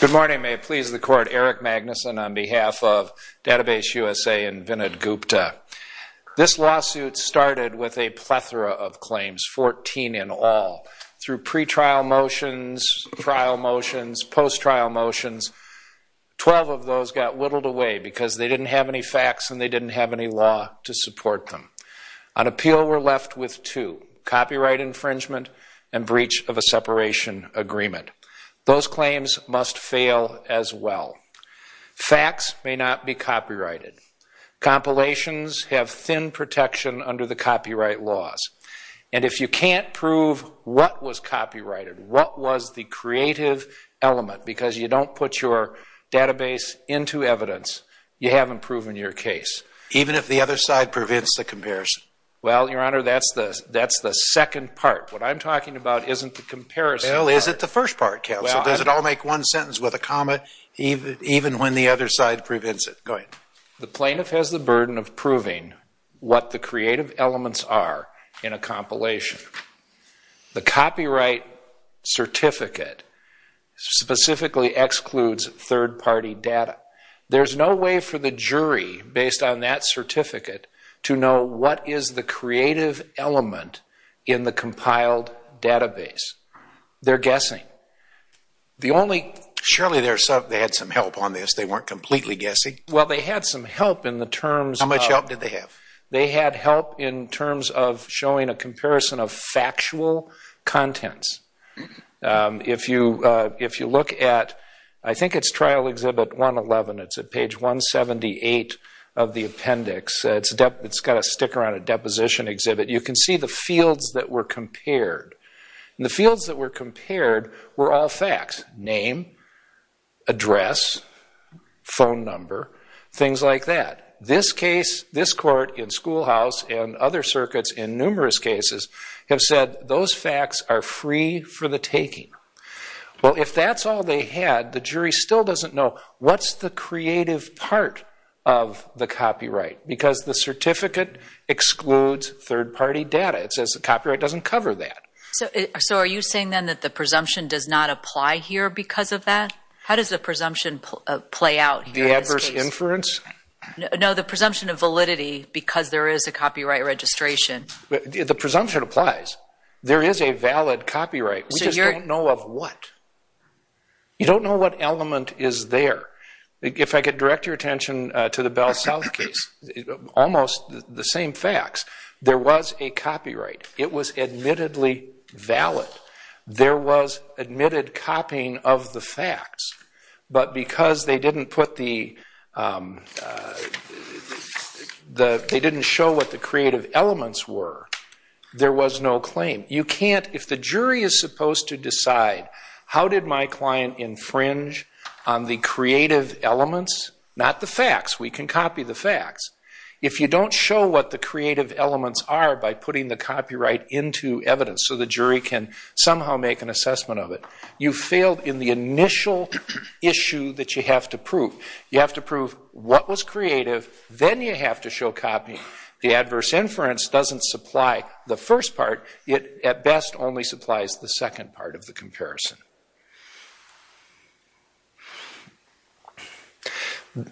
Good morning. May it please the Court, Eric Magnuson on behalf of DatabaseUSA and Vinod Gupta. This lawsuit started with a plethora of claims, 14 in all, through pre-trial motions, trial motions, post-trial motions. Twelve of those got whittled away because they didn't have any facts and they didn't have any law to support them. On appeal, we're left with two, copyright infringement and breach of a separation agreement. Those claims must fail as well. Facts may not be copyrighted. Compilations have thin protection under the copyright laws. And if you can't prove what was copyrighted, what was the creative element because you don't put your database into evidence, you haven't proven your case. Even if the other side prevents the comparison. Well, Your Honor, that's the second part. What I'm talking about isn't the comparison part. Well, is it the first part, counsel? Does it all make one sentence with a comma, even when the other side prevents it? Go ahead. The plaintiff has the burden of proving what the creative elements are in a compilation. The copyright certificate specifically excludes third-party data. There's no way for the jury, based on that certificate, to know what is the creative element in the compiled database. They're guessing. The only... Surely they had some help on this. They weren't completely guessing. Well, they had some help in the terms of... How much help did they have? They had help in terms of showing a comparison of factual contents. If you look at, I think it's Trial Exhibit 111, it's at page 178 of the appendix, it's got a sticker on it, Deposition Exhibit, you can see the fields that were compared. And the fields that were compared were all facts. Name, address, phone number, things like that. This case, this court in Schoolhouse and other circuits in numerous cases have said those facts are free for the taking. Well, if that's all they had, the jury still doesn't know what's the creative part of the copyright, because the certificate excludes third-party data. It says the copyright doesn't cover that. So are you saying then that the presumption does not apply here because of that? How does the presumption play out here in this case? The adverse inference? No, the presumption of validity, because there is a copyright registration. The presumption applies. There is a valid copyright. We just don't know of what. You don't know what element is there. If I could direct your attention to the Bell South case, almost the same facts. There was a copyright. It was admittedly valid. There was admitted elements were. There was no claim. You can't, if the jury is supposed to decide how did my client infringe on the creative elements, not the facts, we can copy the facts. If you don't show what the creative elements are by putting the copyright into evidence so the jury can somehow make an assessment of it, you failed in the initial issue that you have to prove. You have to prove what was creative, then you have to show copy. The adverse inference doesn't supply the first part. It, at best, only supplies the second part of the comparison.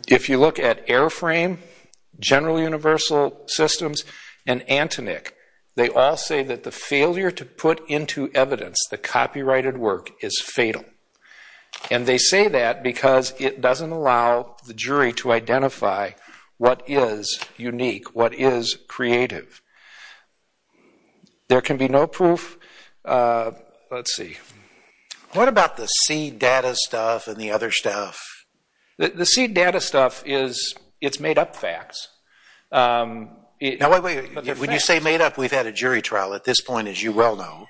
If you look at Airframe, General Universal Systems, and Antonik, they all say that the failure to put into evidence the copyrighted work is fatal. And they say that because it was creative. There can be no proof. Let's see. What about the seed data stuff and the other stuff? The seed data stuff is, it's made up facts. Now, wait, wait. When you say made up, we've had a jury trial at this point, as you well know.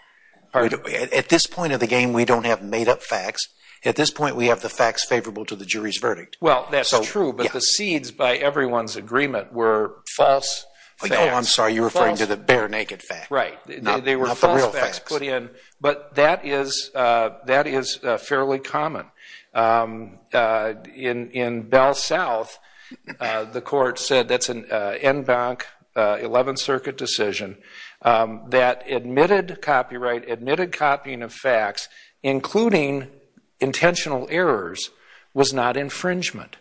At this point of the game, we don't have made up facts. At this point, we have the facts favorable to the jury's verdict. Well, that's true, but the seeds by everyone's agreement were false facts. Oh, I'm sorry. You're referring to the bare naked facts. Right. They were false facts put in, but that is fairly common. In Bell South, the court said that's an en banc, 11th Circuit decision, that admitted copyright, admitted copying of facts, including intentional errors, was not infringement.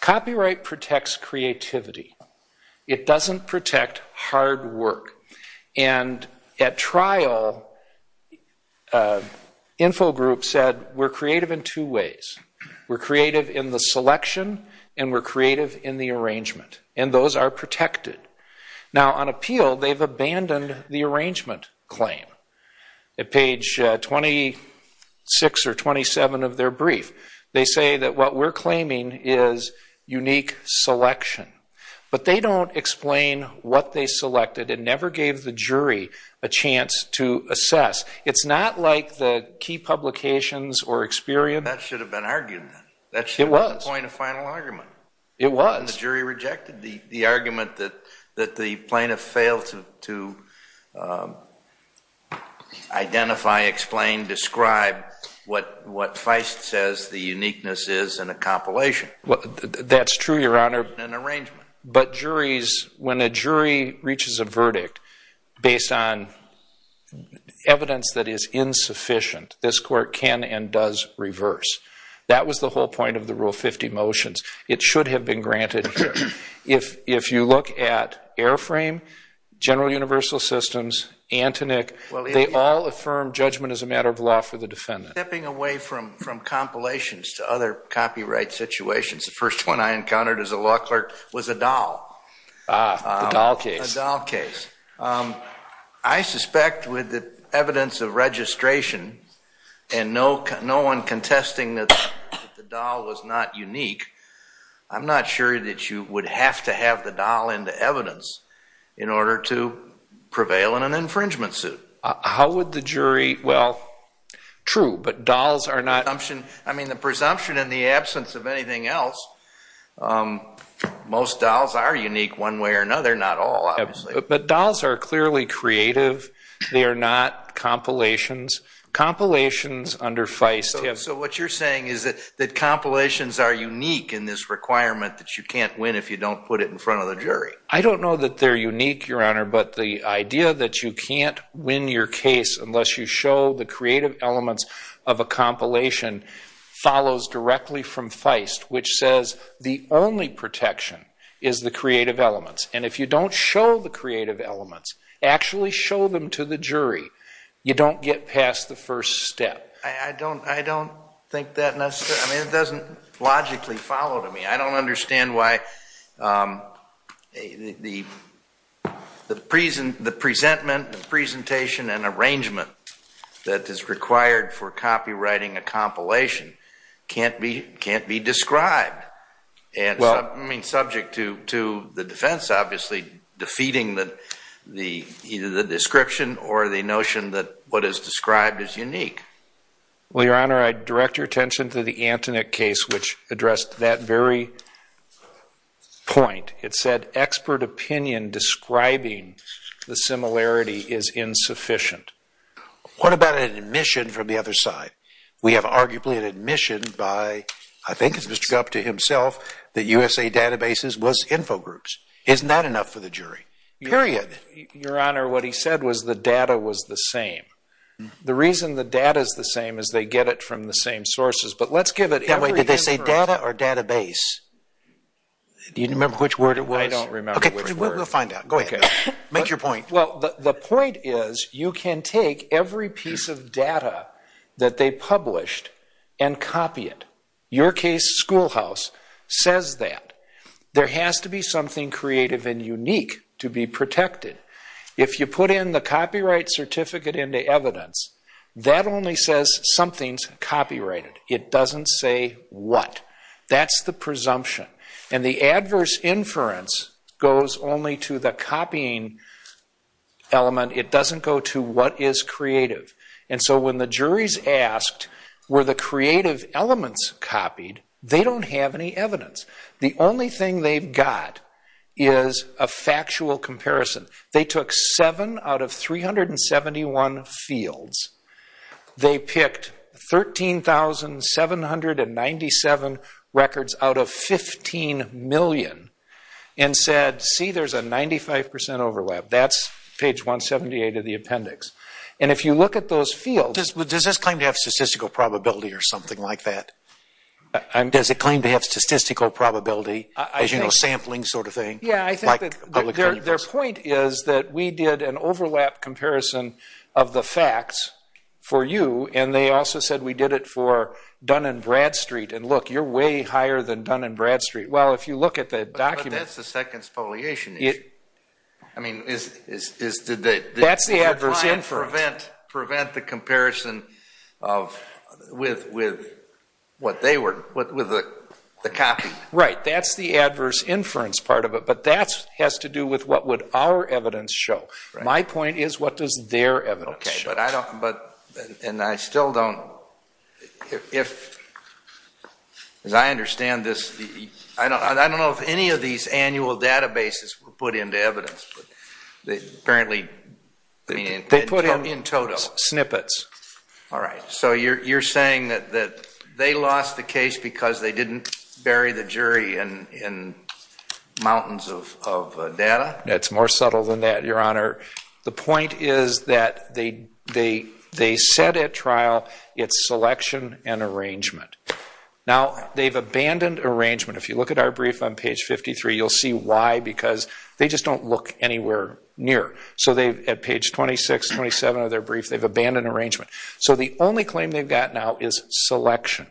Copyright protects creativity. It doesn't protect hard work. And at trial, Info Group said, we're creative in two ways. We're creative in the selection, and we're creative in the arrangement. And those are protected. Now, on appeal, they've abandoned the arrangement claim. At page 26 or 27 of their brief, they say that what we're claiming is unique selection. But they don't explain what they selected and never gave the jury a chance to assess. It's not like the key publications or experience. That should have been argued then. It was. That should have been the point of final argument. It was. And then the jury rejected the argument that the plaintiff failed to identify, explain, describe what Feist says the uniqueness is in a compilation. That's true, Your Honor. In an arrangement. But juries, when a jury reaches a verdict based on evidence that is insufficient, this court can and does reverse. That was the whole point of the Rule 50 motions. It should have been granted. If you look at Airframe, General Universal Systems, Antoinette, they all affirm judgment as a matter of law for the defendant. Stepping away from compilations to other copyright situations, the first one I encountered as a law clerk was the Dahl case. I suspect with the evidence of registration and no one contesting that the Dahl was not sure that you would have to have the Dahl into evidence in order to prevail in an infringement suit. How would the jury—well, true, but Dahls are not— I mean, the presumption in the absence of anything else, most Dahls are unique one way or another. Not all, obviously. But Dahls are clearly creative. They are not compilations. Compilations under Feist— So what you're saying is that compilations are unique in this requirement that you can't win if you don't put it in front of the jury. I don't know that they're unique, Your Honor, but the idea that you can't win your case unless you show the creative elements of a compilation follows directly from Feist, which says the only protection is the creative elements. And if you don't show the creative elements, actually show them to the jury, you don't get past the first step. I don't think that necessarily—I mean, it doesn't logically follow to me. I don't understand why the presentment, the presentation, and arrangement that is required for copywriting a compilation can't be described and subject to the defense, obviously, defeating the description or the notion that what is described is unique. Well, Your Honor, I direct your attention to the Antonin case, which addressed that very point. It said expert opinion describing the similarity is insufficient. What about an admission from the other side? We have arguably an admission by, I think it's Mr. Gupta himself, that USA Databases was Infogroups. Isn't that enough for the jury? Period. Your Honor, what he said was the data was the same. The reason the data is the same is they get it from the same sources. But let's give it every— Wait, did they say data or database? Do you remember which word it was? I don't remember which word. Okay, we'll find out. Go ahead. Make your point. Well, the point is you can take every piece of data that they published and copy it. Your case, Schoolhouse, says that. There has to be something creative and unique to be protected. If you put in the copyright certificate into evidence, that only says something's copyrighted. It doesn't say what. That's the presumption. And the adverse inference goes only to the copying element. It doesn't go to what is creative. And so when the juries asked, were the creative elements copied, they don't have any evidence. The only thing they've got is a factual comparison. They took seven out of 371 fields. They picked 13,797 records out of 15 million and said, see, there's a 95 percent overlap. That's page 178 of the appendix. And if you look at those fields— Does this claim to have statistical probability or something like that? Does it claim to have statistical probability, as you know, sampling sort of thing? Yeah, I think that their point is that we did an overlap comparison of the facts for you, and they also said we did it for Dun & Bradstreet. And look, you're way higher than Dun & Bradstreet. Well, if you look at the document— That's the adverse inference. If you try and prevent the comparison with the copy. Right, that's the adverse inference part of it, but that has to do with what would our evidence show. My point is, what does their evidence show? Okay, but I don't—and I still don't—as I understand this, I don't know if any of these annual databases were put into evidence, but apparently— They put in totals, snippets. All right, so you're saying that they lost the case because they didn't bury the jury in mountains of data? It's more subtle than that, Your Honor. The point is that they said at trial, it's selection and arrangement. Now, they've abandoned arrangement. If you look at our brief on page 53, you'll see why. Because they just don't look anywhere near. So at page 26, 27 of their brief, they've abandoned arrangement. So the only claim they've got now is selection.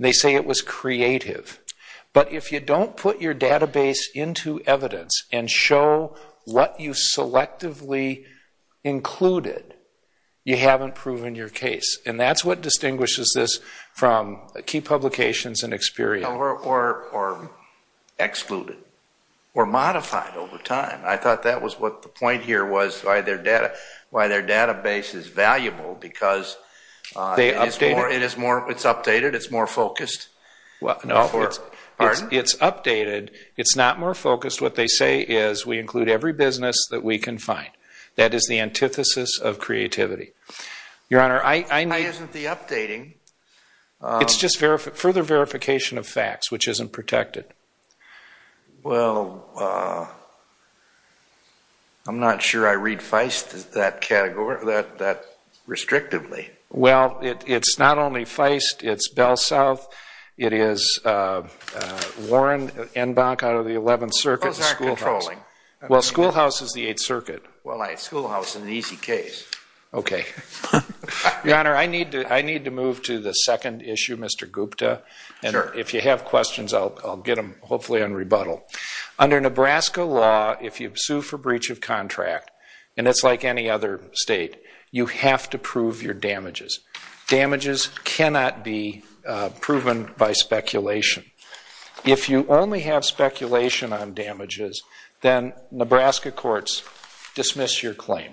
They say it was creative. But if you don't put your database into evidence and show what you selectively included, you haven't proven your case. And that's what distinguishes this from key publications and experience. Well, or excluded or modified over time. I thought that was what the point here was, why their database is valuable because it's updated, it's more focused. Pardon? It's updated. It's not more focused. What they say is we include every business that we can find. That is the antithesis of creativity. Why isn't the updating— It's just further verification of facts, which isn't protected. Well, I'm not sure I read Feist that restrictively. Well, it's not only Feist, it's Bell South, it is Warren, Enbach out of the 11th Circuit. Those aren't controlling. Well, Schoolhouse is the 8th Circuit. Well, Schoolhouse is an easy case. Okay. Your Honor, I need to move to the second issue, Mr. Gupta. Sure. And if you have questions, I'll get them hopefully on rebuttal. Under Nebraska law, if you sue for breach of contract, and it's like any other state, you have to prove your damages. Damages cannot be proven by speculation. If you only have speculation on damages, then Nebraska courts dismiss your claim.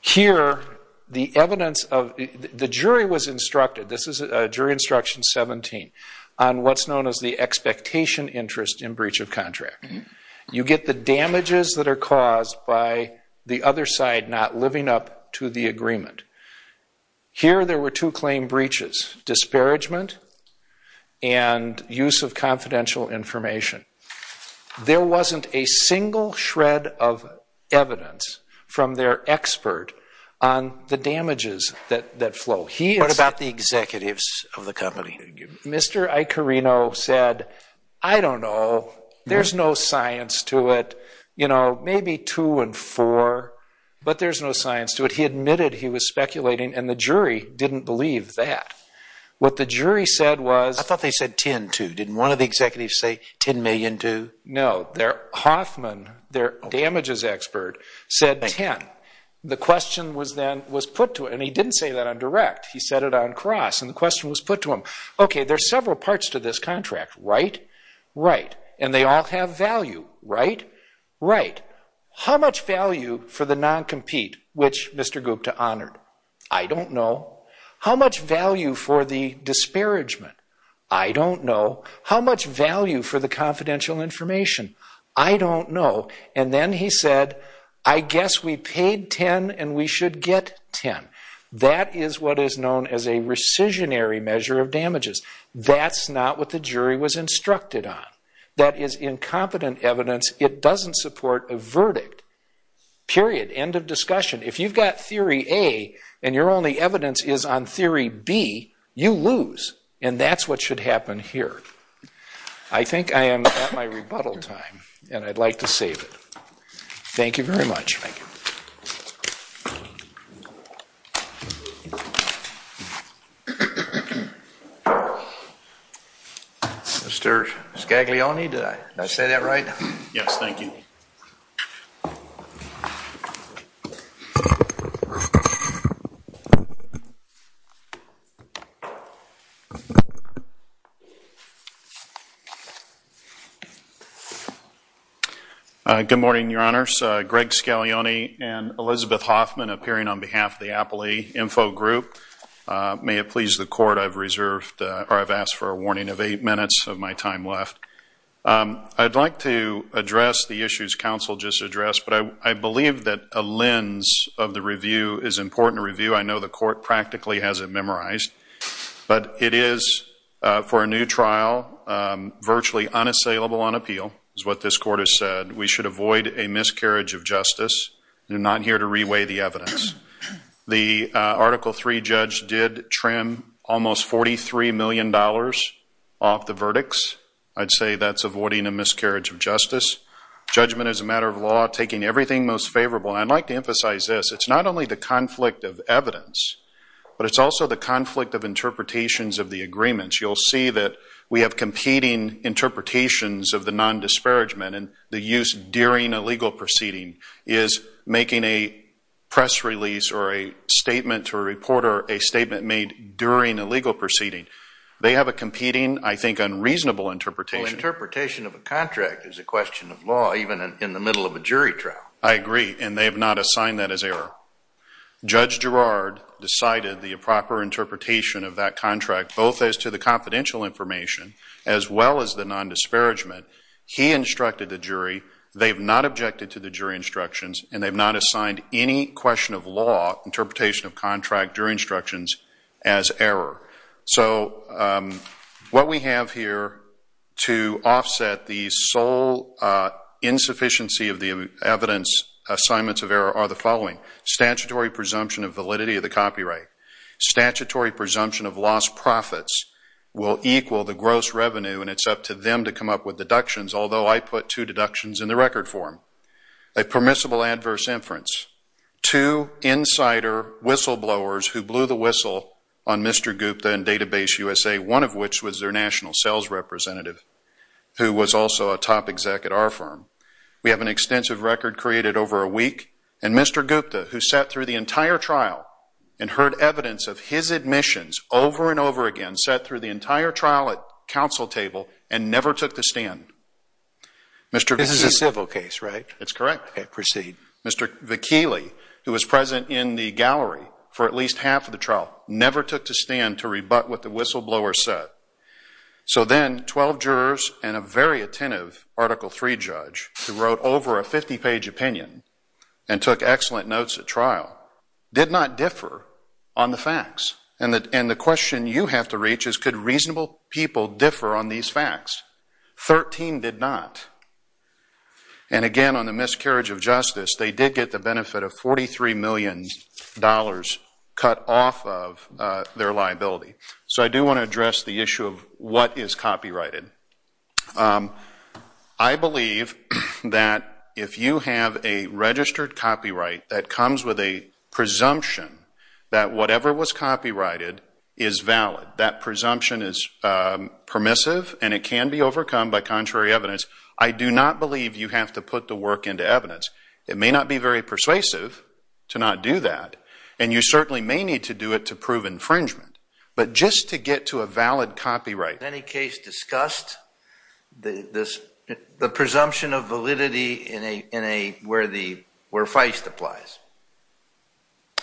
Here, the evidence of—the jury was instructed, this is Jury Instruction 17, on what's known as the expectation interest in breach of contract. You get the damages that are caused by the other side not living up to the agreement. Here, there were two claim breaches, disparagement and use of confidential information. There wasn't a single shred of evidence from their expert on the damages that flow. What about the executives of the company? Mr. Icarino said, I don't know, there's no science to it, maybe two and four, but there's no science to it. But he admitted he was speculating, and the jury didn't believe that. What the jury said was— I thought they said 10-2. Didn't one of the executives say 10 million-2? No. Hoffman, their damages expert, said 10. The question then was put to him, and he didn't say that on direct. He said it on cross, and the question was put to him. Okay, there's several parts to this contract, right? Right. And they all have value, right? Right. But how much value for the non-compete, which Mr. Gupta honored? I don't know. How much value for the disparagement? I don't know. How much value for the confidential information? I don't know. And then he said, I guess we paid 10 and we should get 10. That is what is known as a rescissionary measure of damages. That's not what the jury was instructed on. That is incompetent evidence. It doesn't support a verdict. Period. End of discussion. If you've got theory A and your only evidence is on theory B, you lose, and that's what should happen here. I think I am at my rebuttal time, and I'd like to save it. Thank you very much. Thank you. Mr. Scaglione, did I say that right? Yes, thank you. This is Greg Scaglione and Elizabeth Hoffman, appearing on behalf of the Appley Info Group. May it please the Court, I've asked for a warning of eight minutes of my time left. I'd like to address the issues counsel just addressed, but I believe that a lens of the review is important to review. I know the Court practically has it memorized. But it is, for a new trial, virtually unassailable on appeal, is what this Court has said. We should avoid a miscarriage of justice. We're not here to reweigh the evidence. The Article III judge did trim almost $43 million off the verdicts. I'd say that's avoiding a miscarriage of justice. Judgment is a matter of law, taking everything most favorable. I'd like to emphasize this. It's not only the conflict of evidence, but it's also the conflict of interpretations of the agreements. You'll see that we have competing interpretations of the nondisparagement and the use during a legal proceeding is making a press release or a statement to a reporter a statement made during a legal proceeding. They have a competing, I think, unreasonable interpretation. Well, interpretation of a contract is a question of law, even in the middle of a jury trial. I agree, and they have not assigned that as error. Judge Girard decided the proper interpretation of that contract, both as to the confidential information as well as the nondisparagement. He instructed the jury. They have not objected to the jury instructions, and they have not assigned any question of law, interpretation of contract, jury instructions as error. So what we have here to offset the sole insufficiency of the evidence, assignments of error are the following. Statutory presumption of validity of the copyright. Statutory presumption of lost profits will equal the gross revenue, and it's up to them to come up with deductions, although I put two deductions in the record form. A permissible adverse inference. Two insider whistleblowers who blew the whistle on Mr. Gupta and Database USA, one of which was their national sales representative, who was also a top exec at our firm. We have an extensive record created over a week, and Mr. Gupta, who sat through the entire trial and heard evidence of his admissions over and over again, who sat through the entire trial at counsel table and never took to stand. This is a civil case, right? That's correct. Okay, proceed. Mr. Vakili, who was present in the gallery for at least half of the trial, never took to stand to rebut what the whistleblower said. So then 12 jurors and a very attentive Article III judge, who wrote over a 50-page opinion and took excellent notes at trial, did not differ on the facts. And the question you have to reach is could reasonable people differ on these facts? Thirteen did not. And again, on the miscarriage of justice, they did get the benefit of $43 million cut off of their liability. So I do want to address the issue of what is copyrighted. I believe that if you have a registered copyright that comes with a presumption that whatever was copyrighted is valid. That presumption is permissive and it can be overcome by contrary evidence. I do not believe you have to put the work into evidence. It may not be very persuasive to not do that, and you certainly may need to do it to prove infringement. But just to get to a valid copyright. Has any case discussed the presumption of validity where Feist applies?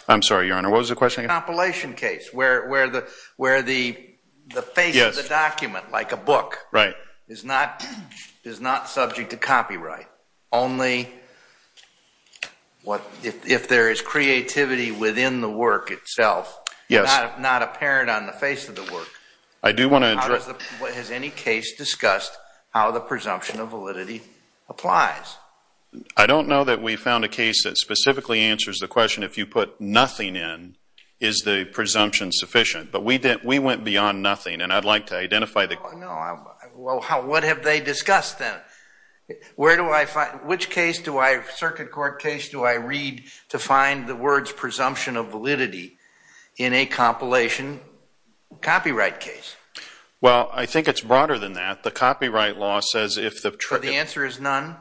I'm sorry, Your Honor. What was the question again? Compilation case where the face of the document, like a book, is not subject to copyright. Only if there is creativity within the work itself, not apparent on the face of the work. Has any case discussed how the presumption of validity applies? I don't know that we found a case that specifically answers the question if you put nothing in, is the presumption sufficient? But we went beyond nothing, and I'd like to identify the case. Well, what have they discussed then? Which circuit court case do I read to find the words presumption of validity in a compilation copyright case? Well, I think it's broader than that. The copyright law says if the trigger... But the answer is none?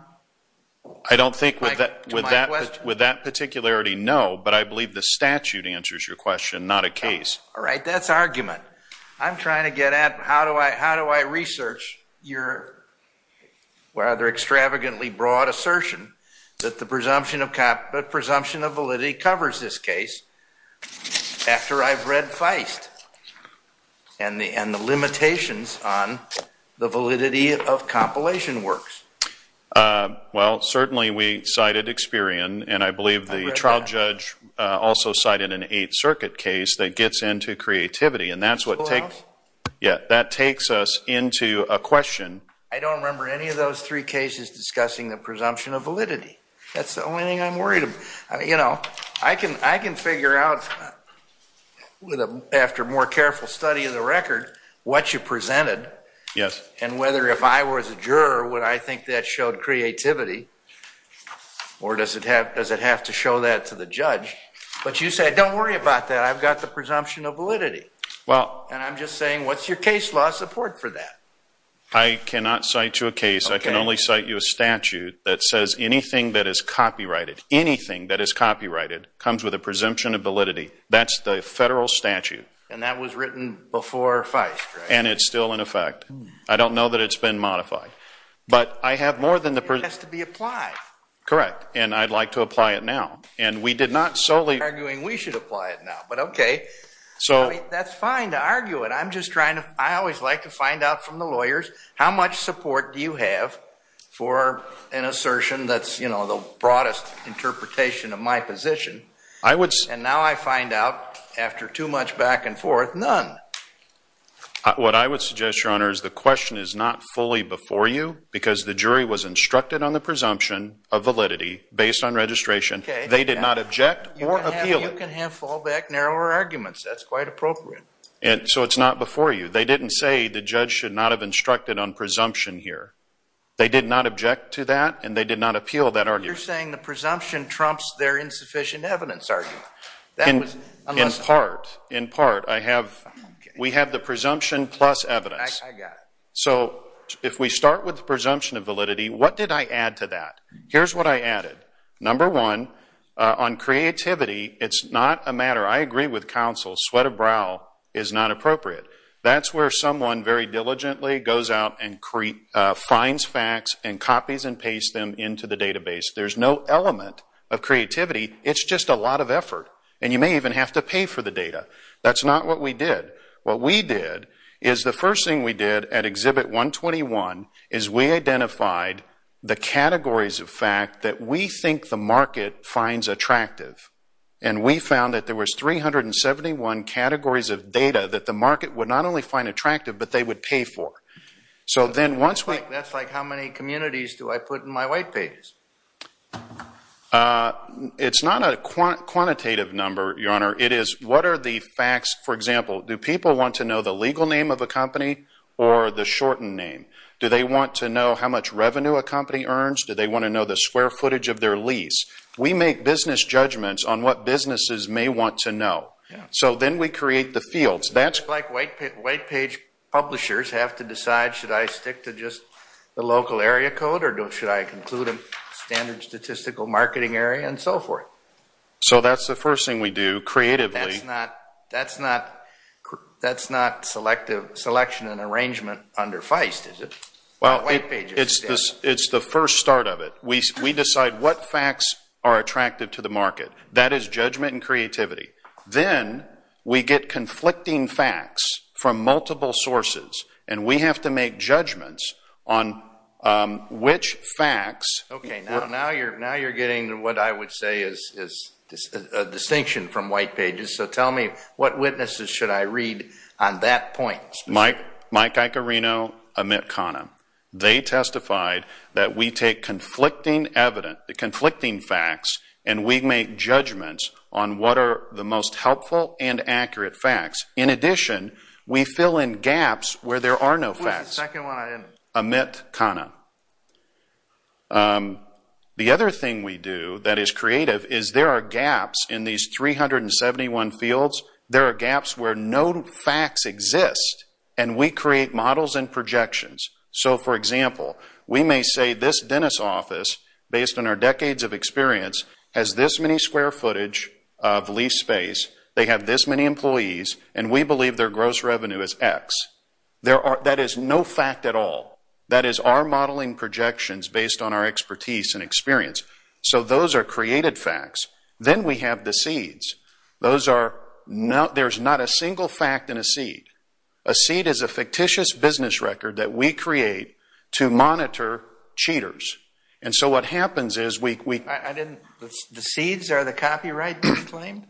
I don't think with that particularity, no, but I believe the statute answers your question, not a case. All right. That's argument. I'm trying to get at how do I research your rather extravagantly broad assertion that the presumption of validity covers this case after I've read Feist and the limitations on the validity of compilation works? Well, certainly we cited Experian, and I believe the trial judge also cited an Eighth Circuit case that gets into creativity, and that's what takes us into a question. I don't remember any of those three cases discussing the presumption of validity. That's the only thing I'm worried about. I can figure out after more careful study of the record what you presented and whether if I was a juror would I think that showed creativity or does it have to show that to the judge. But you said don't worry about that. I've got the presumption of validity, and I'm just saying what's your case law support for that? I cannot cite you a case. I can only cite you a statute that says anything that is copyrighted, anything that is copyrighted comes with a presumption of validity. That's the federal statute. And that was written before Feist, right? And it's still in effect. I don't know that it's been modified. But I have more than the presumption of validity. It has to be applied. Correct, and I'd like to apply it now. You're arguing we should apply it now, but okay. That's fine to argue it. I always like to find out from the lawyers how much support do you have for an assertion that's the broadest interpretation of my position, and now I find out after too much back and forth, none. What I would suggest, Your Honor, is the question is not fully before you because the jury was instructed on the presumption of validity based on registration. They did not object or appeal it. You can have fallback, narrower arguments. That's quite appropriate. So it's not before you. They didn't say the judge should not have instructed on presumption here. They did not object to that, and they did not appeal that argument. You're saying the presumption trumps their insufficient evidence argument. In part. In part. We have the presumption plus evidence. I got it. So if we start with the presumption of validity, what did I add to that? Here's what I added. Number one, on creativity, it's not a matter. I agree with counsel. Sweat of brow is not appropriate. That's where someone very diligently goes out and finds facts and copies and pastes them into the database. There's no element of creativity. It's just a lot of effort, and you may even have to pay for the data. That's not what we did. What we did is the first thing we did at Exhibit 121 is we identified the categories of fact that we think the market finds attractive, and we found that there was 371 categories of data that the market would not only find attractive, but they would pay for. That's like how many communities do I put in my white pages? It's not a quantitative number, Your Honor. It is what are the facts. For example, do people want to know the legal name of a company or the shortened name? Do they want to know how much revenue a company earns? Do they want to know the square footage of their lease? We make business judgments on what businesses may want to know. So then we create the fields. It's like white page publishers have to decide should I stick to just the local area code or should I include a standard statistical marketing area and so forth. So that's the first thing we do creatively. That's not selection and arrangement under Feist, is it? Well, it's the first start of it. We decide what facts are attractive to the market. That is judgment and creativity. Then we get conflicting facts from multiple sources, and we have to make judgments on which facts. Okay, now you're getting what I would say is a distinction from white pages. So tell me, what witnesses should I read on that point? Mike Icarino, Amit Khanna. They testified that we take conflicting facts and we make judgments on what are the most helpful and accurate facts. In addition, we fill in gaps where there are no facts. What's the second one? Amit Khanna. The other thing we do that is creative is there are gaps in these 371 fields. There are gaps where no facts exist, and we create models and projections. So, for example, we may say this dentist's office, based on our decades of experience, has this many square footage of leaf space, they have this many employees, and we believe their gross revenue is X. That is no fact at all. That is our modeling projections based on our expertise and experience. So those are created facts. Then we have the seeds. There's not a single fact in a seed. A seed is a fictitious business record that we create to monitor cheaters. So what happens is we – The seeds are the copyright claim?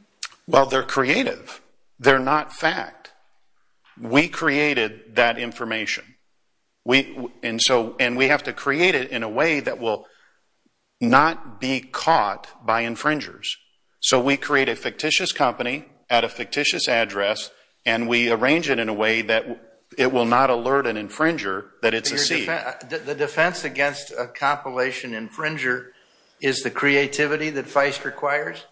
Well, they're creative. They're not fact. We created that information, and we have to create it in a way that will not be caught by infringers. So we create a fictitious company at a fictitious address, and we arrange it in a way that it will not alert an infringer that it's a seed. The defense against a compilation infringer is the creativity that FICE requires?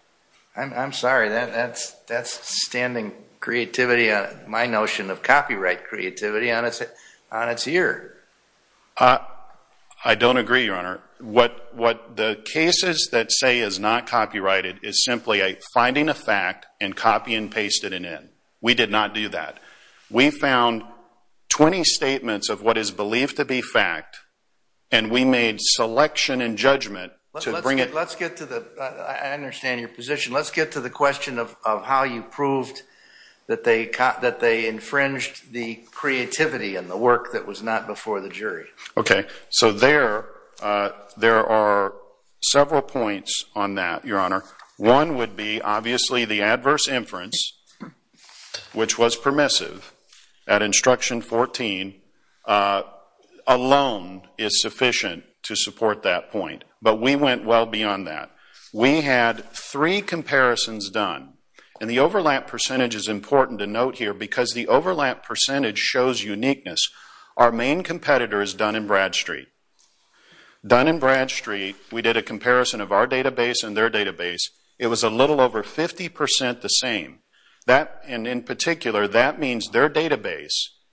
I'm sorry. That's standing creativity, my notion of copyright creativity, on its ear. I don't agree, Your Honor. What the cases that say is not copyrighted is simply finding a fact and copying and pasting it in. We did not do that. We found 20 statements of what is believed to be fact, and we made selection and judgment to bring it – Let's get to the – I understand your position. Let's get to the question of how you proved that they infringed the creativity and the work that was not before the jury. Okay. So there are several points on that, Your Honor. One would be, obviously, the adverse inference, which was permissive at Instruction 14 alone is sufficient to support that point, but we went well beyond that. We had three comparisons done, and the overlap percentage is important to note here because the overlap percentage shows uniqueness. Our main competitor is Dun & Bradstreet. Dun & Bradstreet, we did a comparison of our database and their database. It was a little over 50% the same. And in particular, that means their database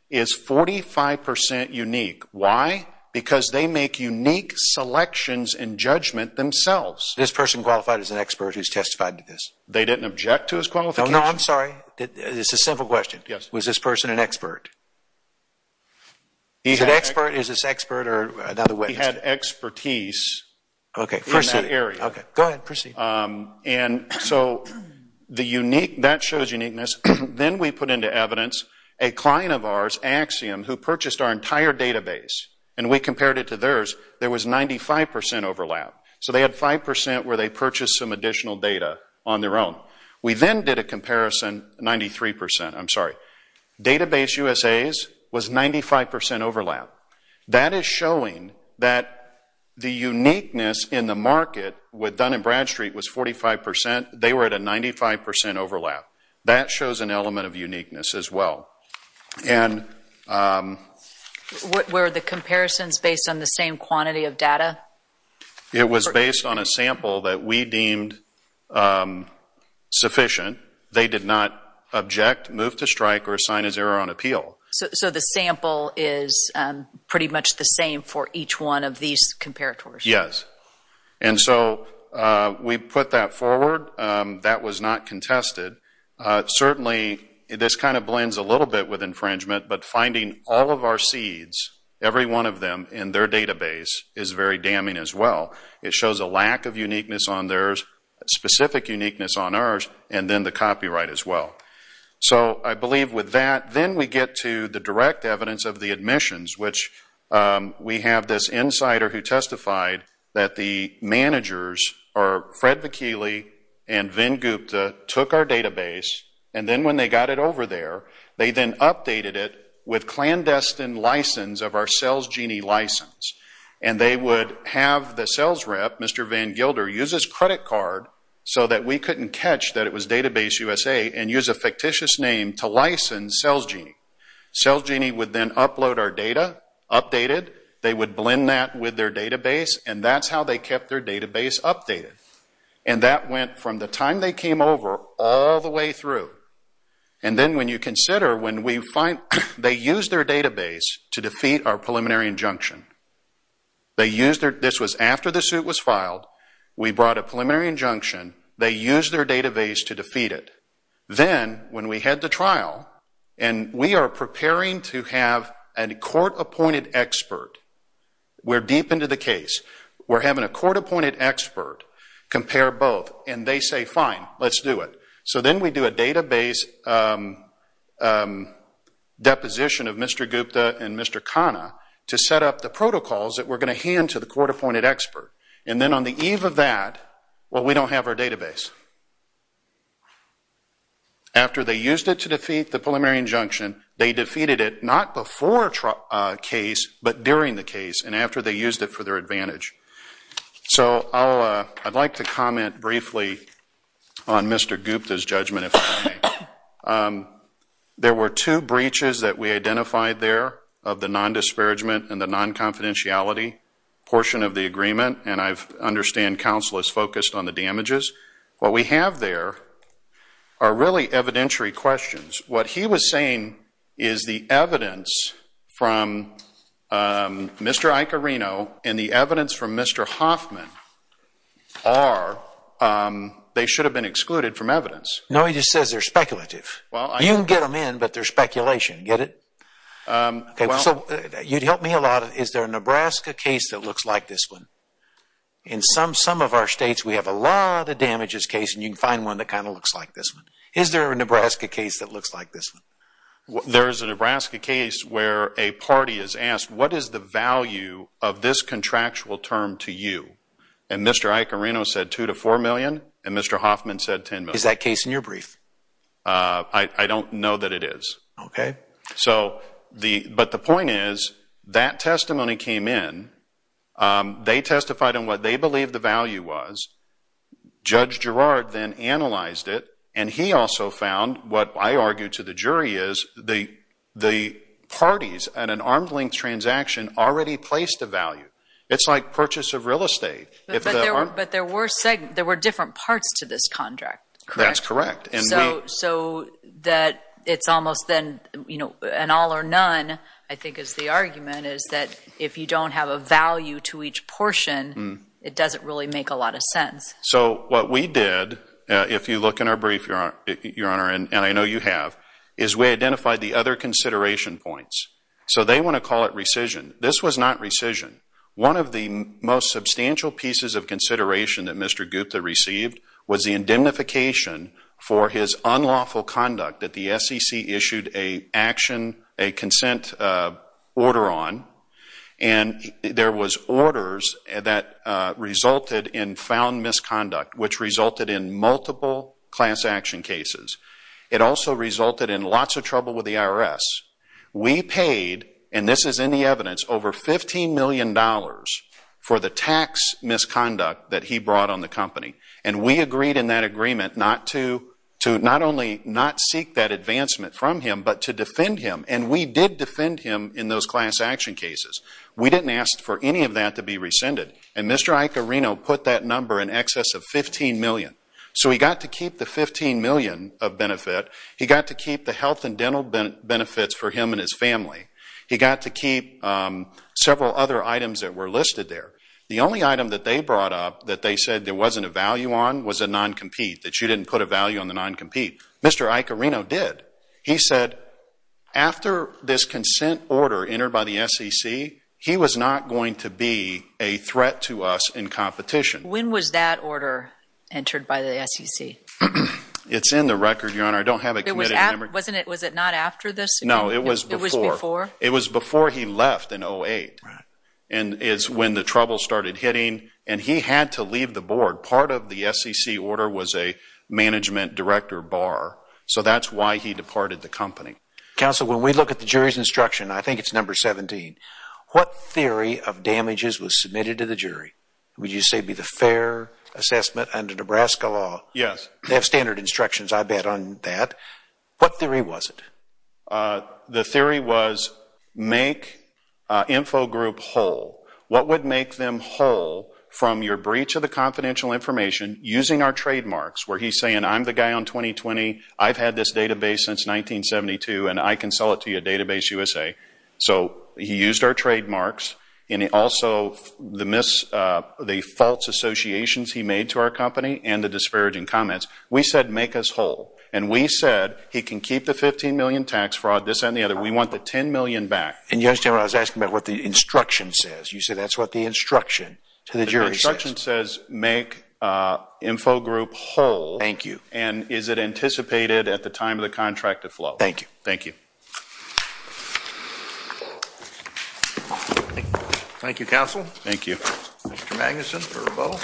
is 45% unique. Why? Because they make unique selections and judgment themselves. This person qualified as an expert who's testified to this? They didn't object to his qualification. No, I'm sorry. It's a simple question. Yes. Is this person an expert? He's an expert. Is this expert or another way? He had expertise in that area. Okay. Go ahead. Proceed. And so that shows uniqueness. Then we put into evidence a client of ours, Axiom, who purchased our entire database, and we compared it to theirs. There was 95% overlap. So they had 5% where they purchased some additional data on their own. We then did a comparison, 93%. I'm sorry. Database USA's was 95% overlap. That is showing that the uniqueness in the market with Dun & Bradstreet was 45%. They were at a 95% overlap. That shows an element of uniqueness as well. Were the comparisons based on the same quantity of data? It was based on a sample that we deemed sufficient. They did not object, move to strike, or assign as error on appeal. So the sample is pretty much the same for each one of these comparators? Yes. And so we put that forward. That was not contested. Certainly this kind of blends a little bit with infringement, but finding all of our seeds, every one of them in their database, is very damning as well. It shows a lack of uniqueness on theirs, specific uniqueness on ours, and then the copyright as well. So I believe with that, then we get to the direct evidence of the admissions, which we have this insider who testified that the managers, or Fred Vakili and Vin Gupta, took our database, and then when they got it over there, they then updated it with clandestine license of our Sales Genie license. And they would have the Sales Rep, Mr. Van Gilder, use his credit card so that we couldn't catch that it was Database USA and use a fictitious name to license Sales Genie. Sales Genie would then upload our data, update it, they would blend that with their database, and that's how they kept their database updated. And that went from the time they came over all the way through. And then when you consider when we find, they used their database to defeat our preliminary injunction. This was after the suit was filed. We brought a preliminary injunction. They used their database to defeat it. Then when we head to trial, and we are preparing to have a court-appointed expert. We're deep into the case. We're having a court-appointed expert compare both, and they say, fine, let's do it. So then we do a database deposition of Mr. Gupta and Mr. Khanna to set up the protocols that we're going to hand to the court-appointed expert. And then on the eve of that, well, we don't have our database. After they used it to defeat the preliminary injunction, they defeated it not before case, but during the case, and after they used it for their advantage. So I'd like to comment briefly on Mr. Gupta's judgment, if I may. There were two breaches that we identified there of the non-disparagement and the non-confidentiality portion of the agreement, and I understand counsel is focused on the damages. What we have there are really evidentiary questions. What he was saying is the evidence from Mr. Icarino and the evidence from Mr. Hoffman are, they should have been excluded from evidence. No, he just says they're speculative. You can get them in, but they're speculation. Get it? So you'd help me a lot. Is there a Nebraska case that looks like this one? In some of our states, we have a lot of damages cases, and you can find one that kind of looks like this one. Is there a Nebraska case that looks like this one? There is a Nebraska case where a party is asked, what is the value of this contractual term to you? And Mr. Icarino said $2 million to $4 million, and Mr. Hoffman said $10 million. Is that case in your brief? I don't know that it is. Okay. But the point is that testimony came in. They testified on what they believed the value was. Judge Gerard then analyzed it, and he also found what I argue to the jury is that the parties at an arm's length transaction already placed a value. It's like purchase of real estate. But there were different parts to this contract, correct? That's correct. So that it's almost then an all or none, I think is the argument, is that if you don't have a value to each portion, it doesn't really make a lot of sense. So what we did, if you look in our brief, Your Honor, and I know you have, is we identified the other consideration points. So they want to call it rescission. This was not rescission. One of the most substantial pieces of consideration that Mr. Gupta received was the indemnification for his unlawful conduct that the SEC issued a consent order on. And there was orders that resulted in found misconduct, which resulted in multiple class action cases. It also resulted in lots of trouble with the IRS. We paid, and this is in the evidence, over $15 million for the tax misconduct that he brought on the company. And we agreed in that agreement not to not only not seek that advancement from him, but to defend him. And we did defend him in those class action cases. We didn't ask for any of that to be rescinded. And Mr. Icorino put that number in excess of $15 million. So he got to keep the $15 million of benefit. He got to keep the health and dental benefits for him and his family. He got to keep several other items that were listed there. The only item that they brought up that they said there wasn't a value on was a non-compete, that you didn't put a value on the non-compete. Mr. Icorino did. He said after this consent order entered by the SEC, he was not going to be a threat to us in competition. When was that order entered by the SEC? It's in the record, Your Honor. I don't have it committed. Was it not after this? No, it was before. It was before? It was before he left in 2008 is when the trouble started hitting. And he had to leave the board. Part of the SEC order was a management director bar. So that's why he departed the company. Counsel, when we look at the jury's instruction, I think it's number 17, what theory of damages was submitted to the jury? Would you say it would be the fair assessment under Nebraska law? Yes. They have standard instructions, I bet, on that. What theory was it? The theory was make info group whole. What would make them whole from your breach of the confidential information using our trademarks, where he's saying I'm the guy on 2020, I've had this database since 1972, and I can sell it to you at Database USA. So he used our trademarks. And also the false associations he made to our company and the disparaging comments. We said make us whole. And we said he can keep the $15 million tax fraud, this and the other. We want the $10 million back. And you understand what I was asking about what the instruction says. You said that's what the instruction to the jury says. The instruction says make info group whole. Thank you. And is it anticipated at the time of the contract to flow? Thank you. Thank you. Thank you, Counsel. Thank you. Mr. Magnuson for rebuttal.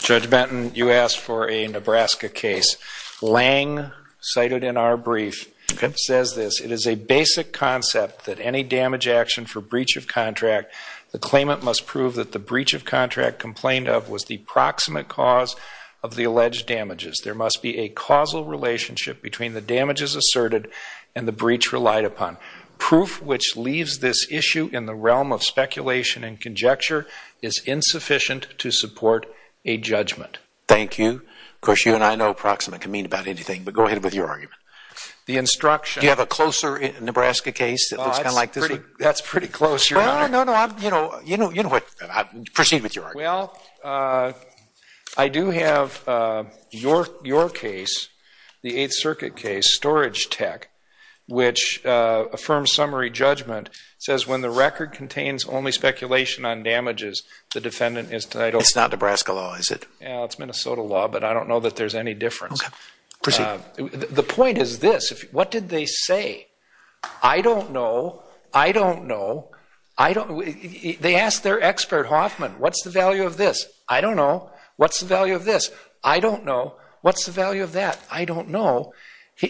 Judge Benton, you asked for a Nebraska case. Lange, cited in our brief, says this. It is a basic concept that any damage action for breach of contract, the claimant must prove that the breach of contract complained of was the proximate cause of the alleged damages. There must be a causal relationship between the damages asserted and the breach relied upon. Proof which leaves this issue in the realm of speculation and conjecture is insufficient to support a judgment. Thank you. Of course, you and I know proximate can mean about anything. But go ahead with your argument. The instruction. Do you have a closer Nebraska case that looks kind of like this? That's pretty close, Your Honor. No, no, no. You know what? Proceed with your argument. Well, I do have your case, the Eighth Circuit case, Storage Tech, which affirms summary judgment. It says when the record contains only speculation on damages, the defendant is titled. It's not Nebraska law, is it? It's Minnesota law, but I don't know that there's any difference. Okay. Proceed. The point is this. What did they say? I don't know. I don't know. They asked their expert, Hoffman, what's the value of this? I don't know. What's the value of this? I don't know. What's the value of that? I don't know.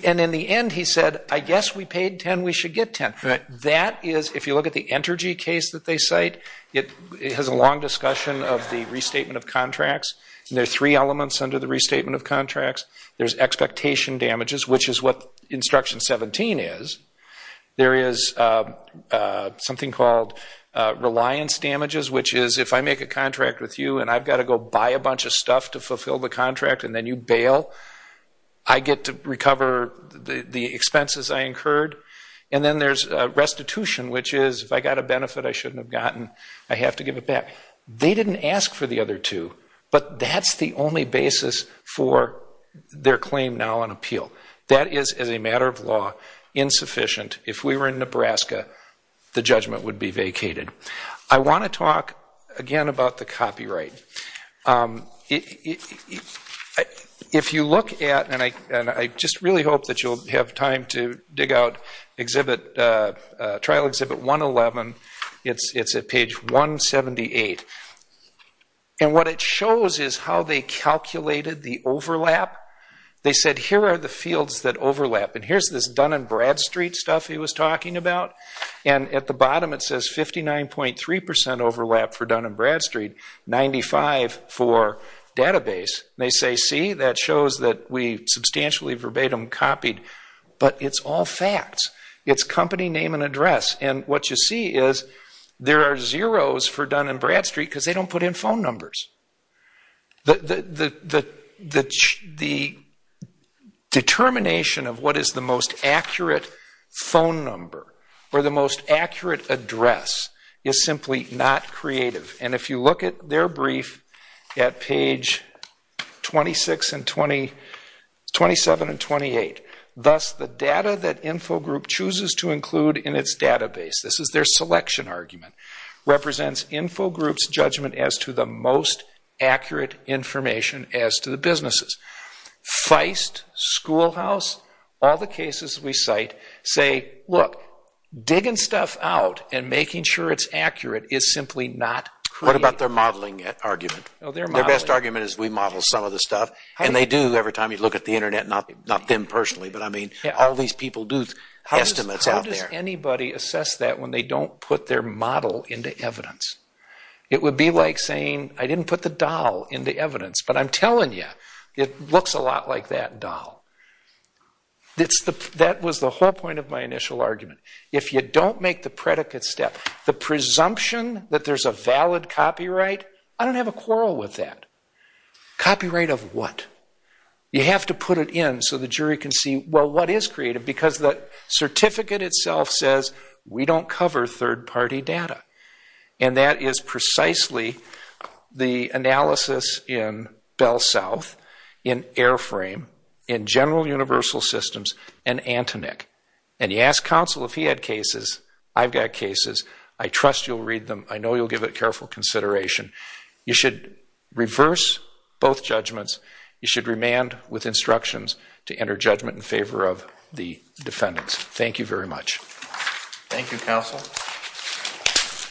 And in the end he said, I guess we paid 10, we should get 10. That is, if you look at the Entergy case that they cite, it has a long discussion of the restatement of contracts. There are three elements under the restatement of contracts. There's expectation damages, which is what Instruction 17 is. There is something called reliance damages, which is if I make a contract with you and I've got to go buy a bunch of stuff to fulfill the contract and then you bail, I get to recover the expenses I incurred. And then there's restitution, which is if I got a benefit I shouldn't have gotten, I have to give it back. They didn't ask for the other two, but that's the only basis for their claim now on appeal. That is, as a matter of law, insufficient. If we were in Nebraska, the judgment would be vacated. I want to talk again about the copyright. If you look at, and I just really hope that you'll have time to dig out trial Exhibit 111, it's at page 178. And what it shows is how they calculated the overlap. They said, here are the fields that overlap. And here's this Dun & Bradstreet stuff he was talking about. And at the bottom it says 59.3% overlap for Dun & Bradstreet, 95% for database. They say, see, that shows that we substantially verbatim copied. But it's all facts. It's company name and address. And what you see is there are zeros for Dun & Bradstreet because they don't put in phone numbers. The determination of what is the most accurate phone number or the most accurate address is simply not creative. And if you look at their brief at page 27 and 28, thus the data that InfoGroup chooses to include in its database, this is their selection argument, represents InfoGroup's judgment as to the most accurate information as to the businesses. Feist, Schoolhouse, all the cases we cite say, look, digging stuff out and making sure it's accurate is simply not creative. What about their modeling argument? Their best argument is we model some of the stuff. And they do every time you look at the Internet, not them personally, but I mean all these people do estimates out there. Why would anybody assess that when they don't put their model into evidence? It would be like saying, I didn't put the doll into evidence, but I'm telling you, it looks a lot like that doll. That was the whole point of my initial argument. If you don't make the predicate step, the presumption that there's a valid copyright, I don't have a quarrel with that. Copyright of what? You have to put it in so the jury can see, well, what is creative? Because the certificate itself says we don't cover third-party data. And that is precisely the analysis in Bell South, in Airframe, in General Universal Systems, and ANTONIC. And you ask counsel if he had cases, I've got cases. I trust you'll read them. I know you'll give it careful consideration. You should reverse both judgments. You should remand with instructions to enter judgment in favor of the defendants. Thank you very much. Thank you, counsel.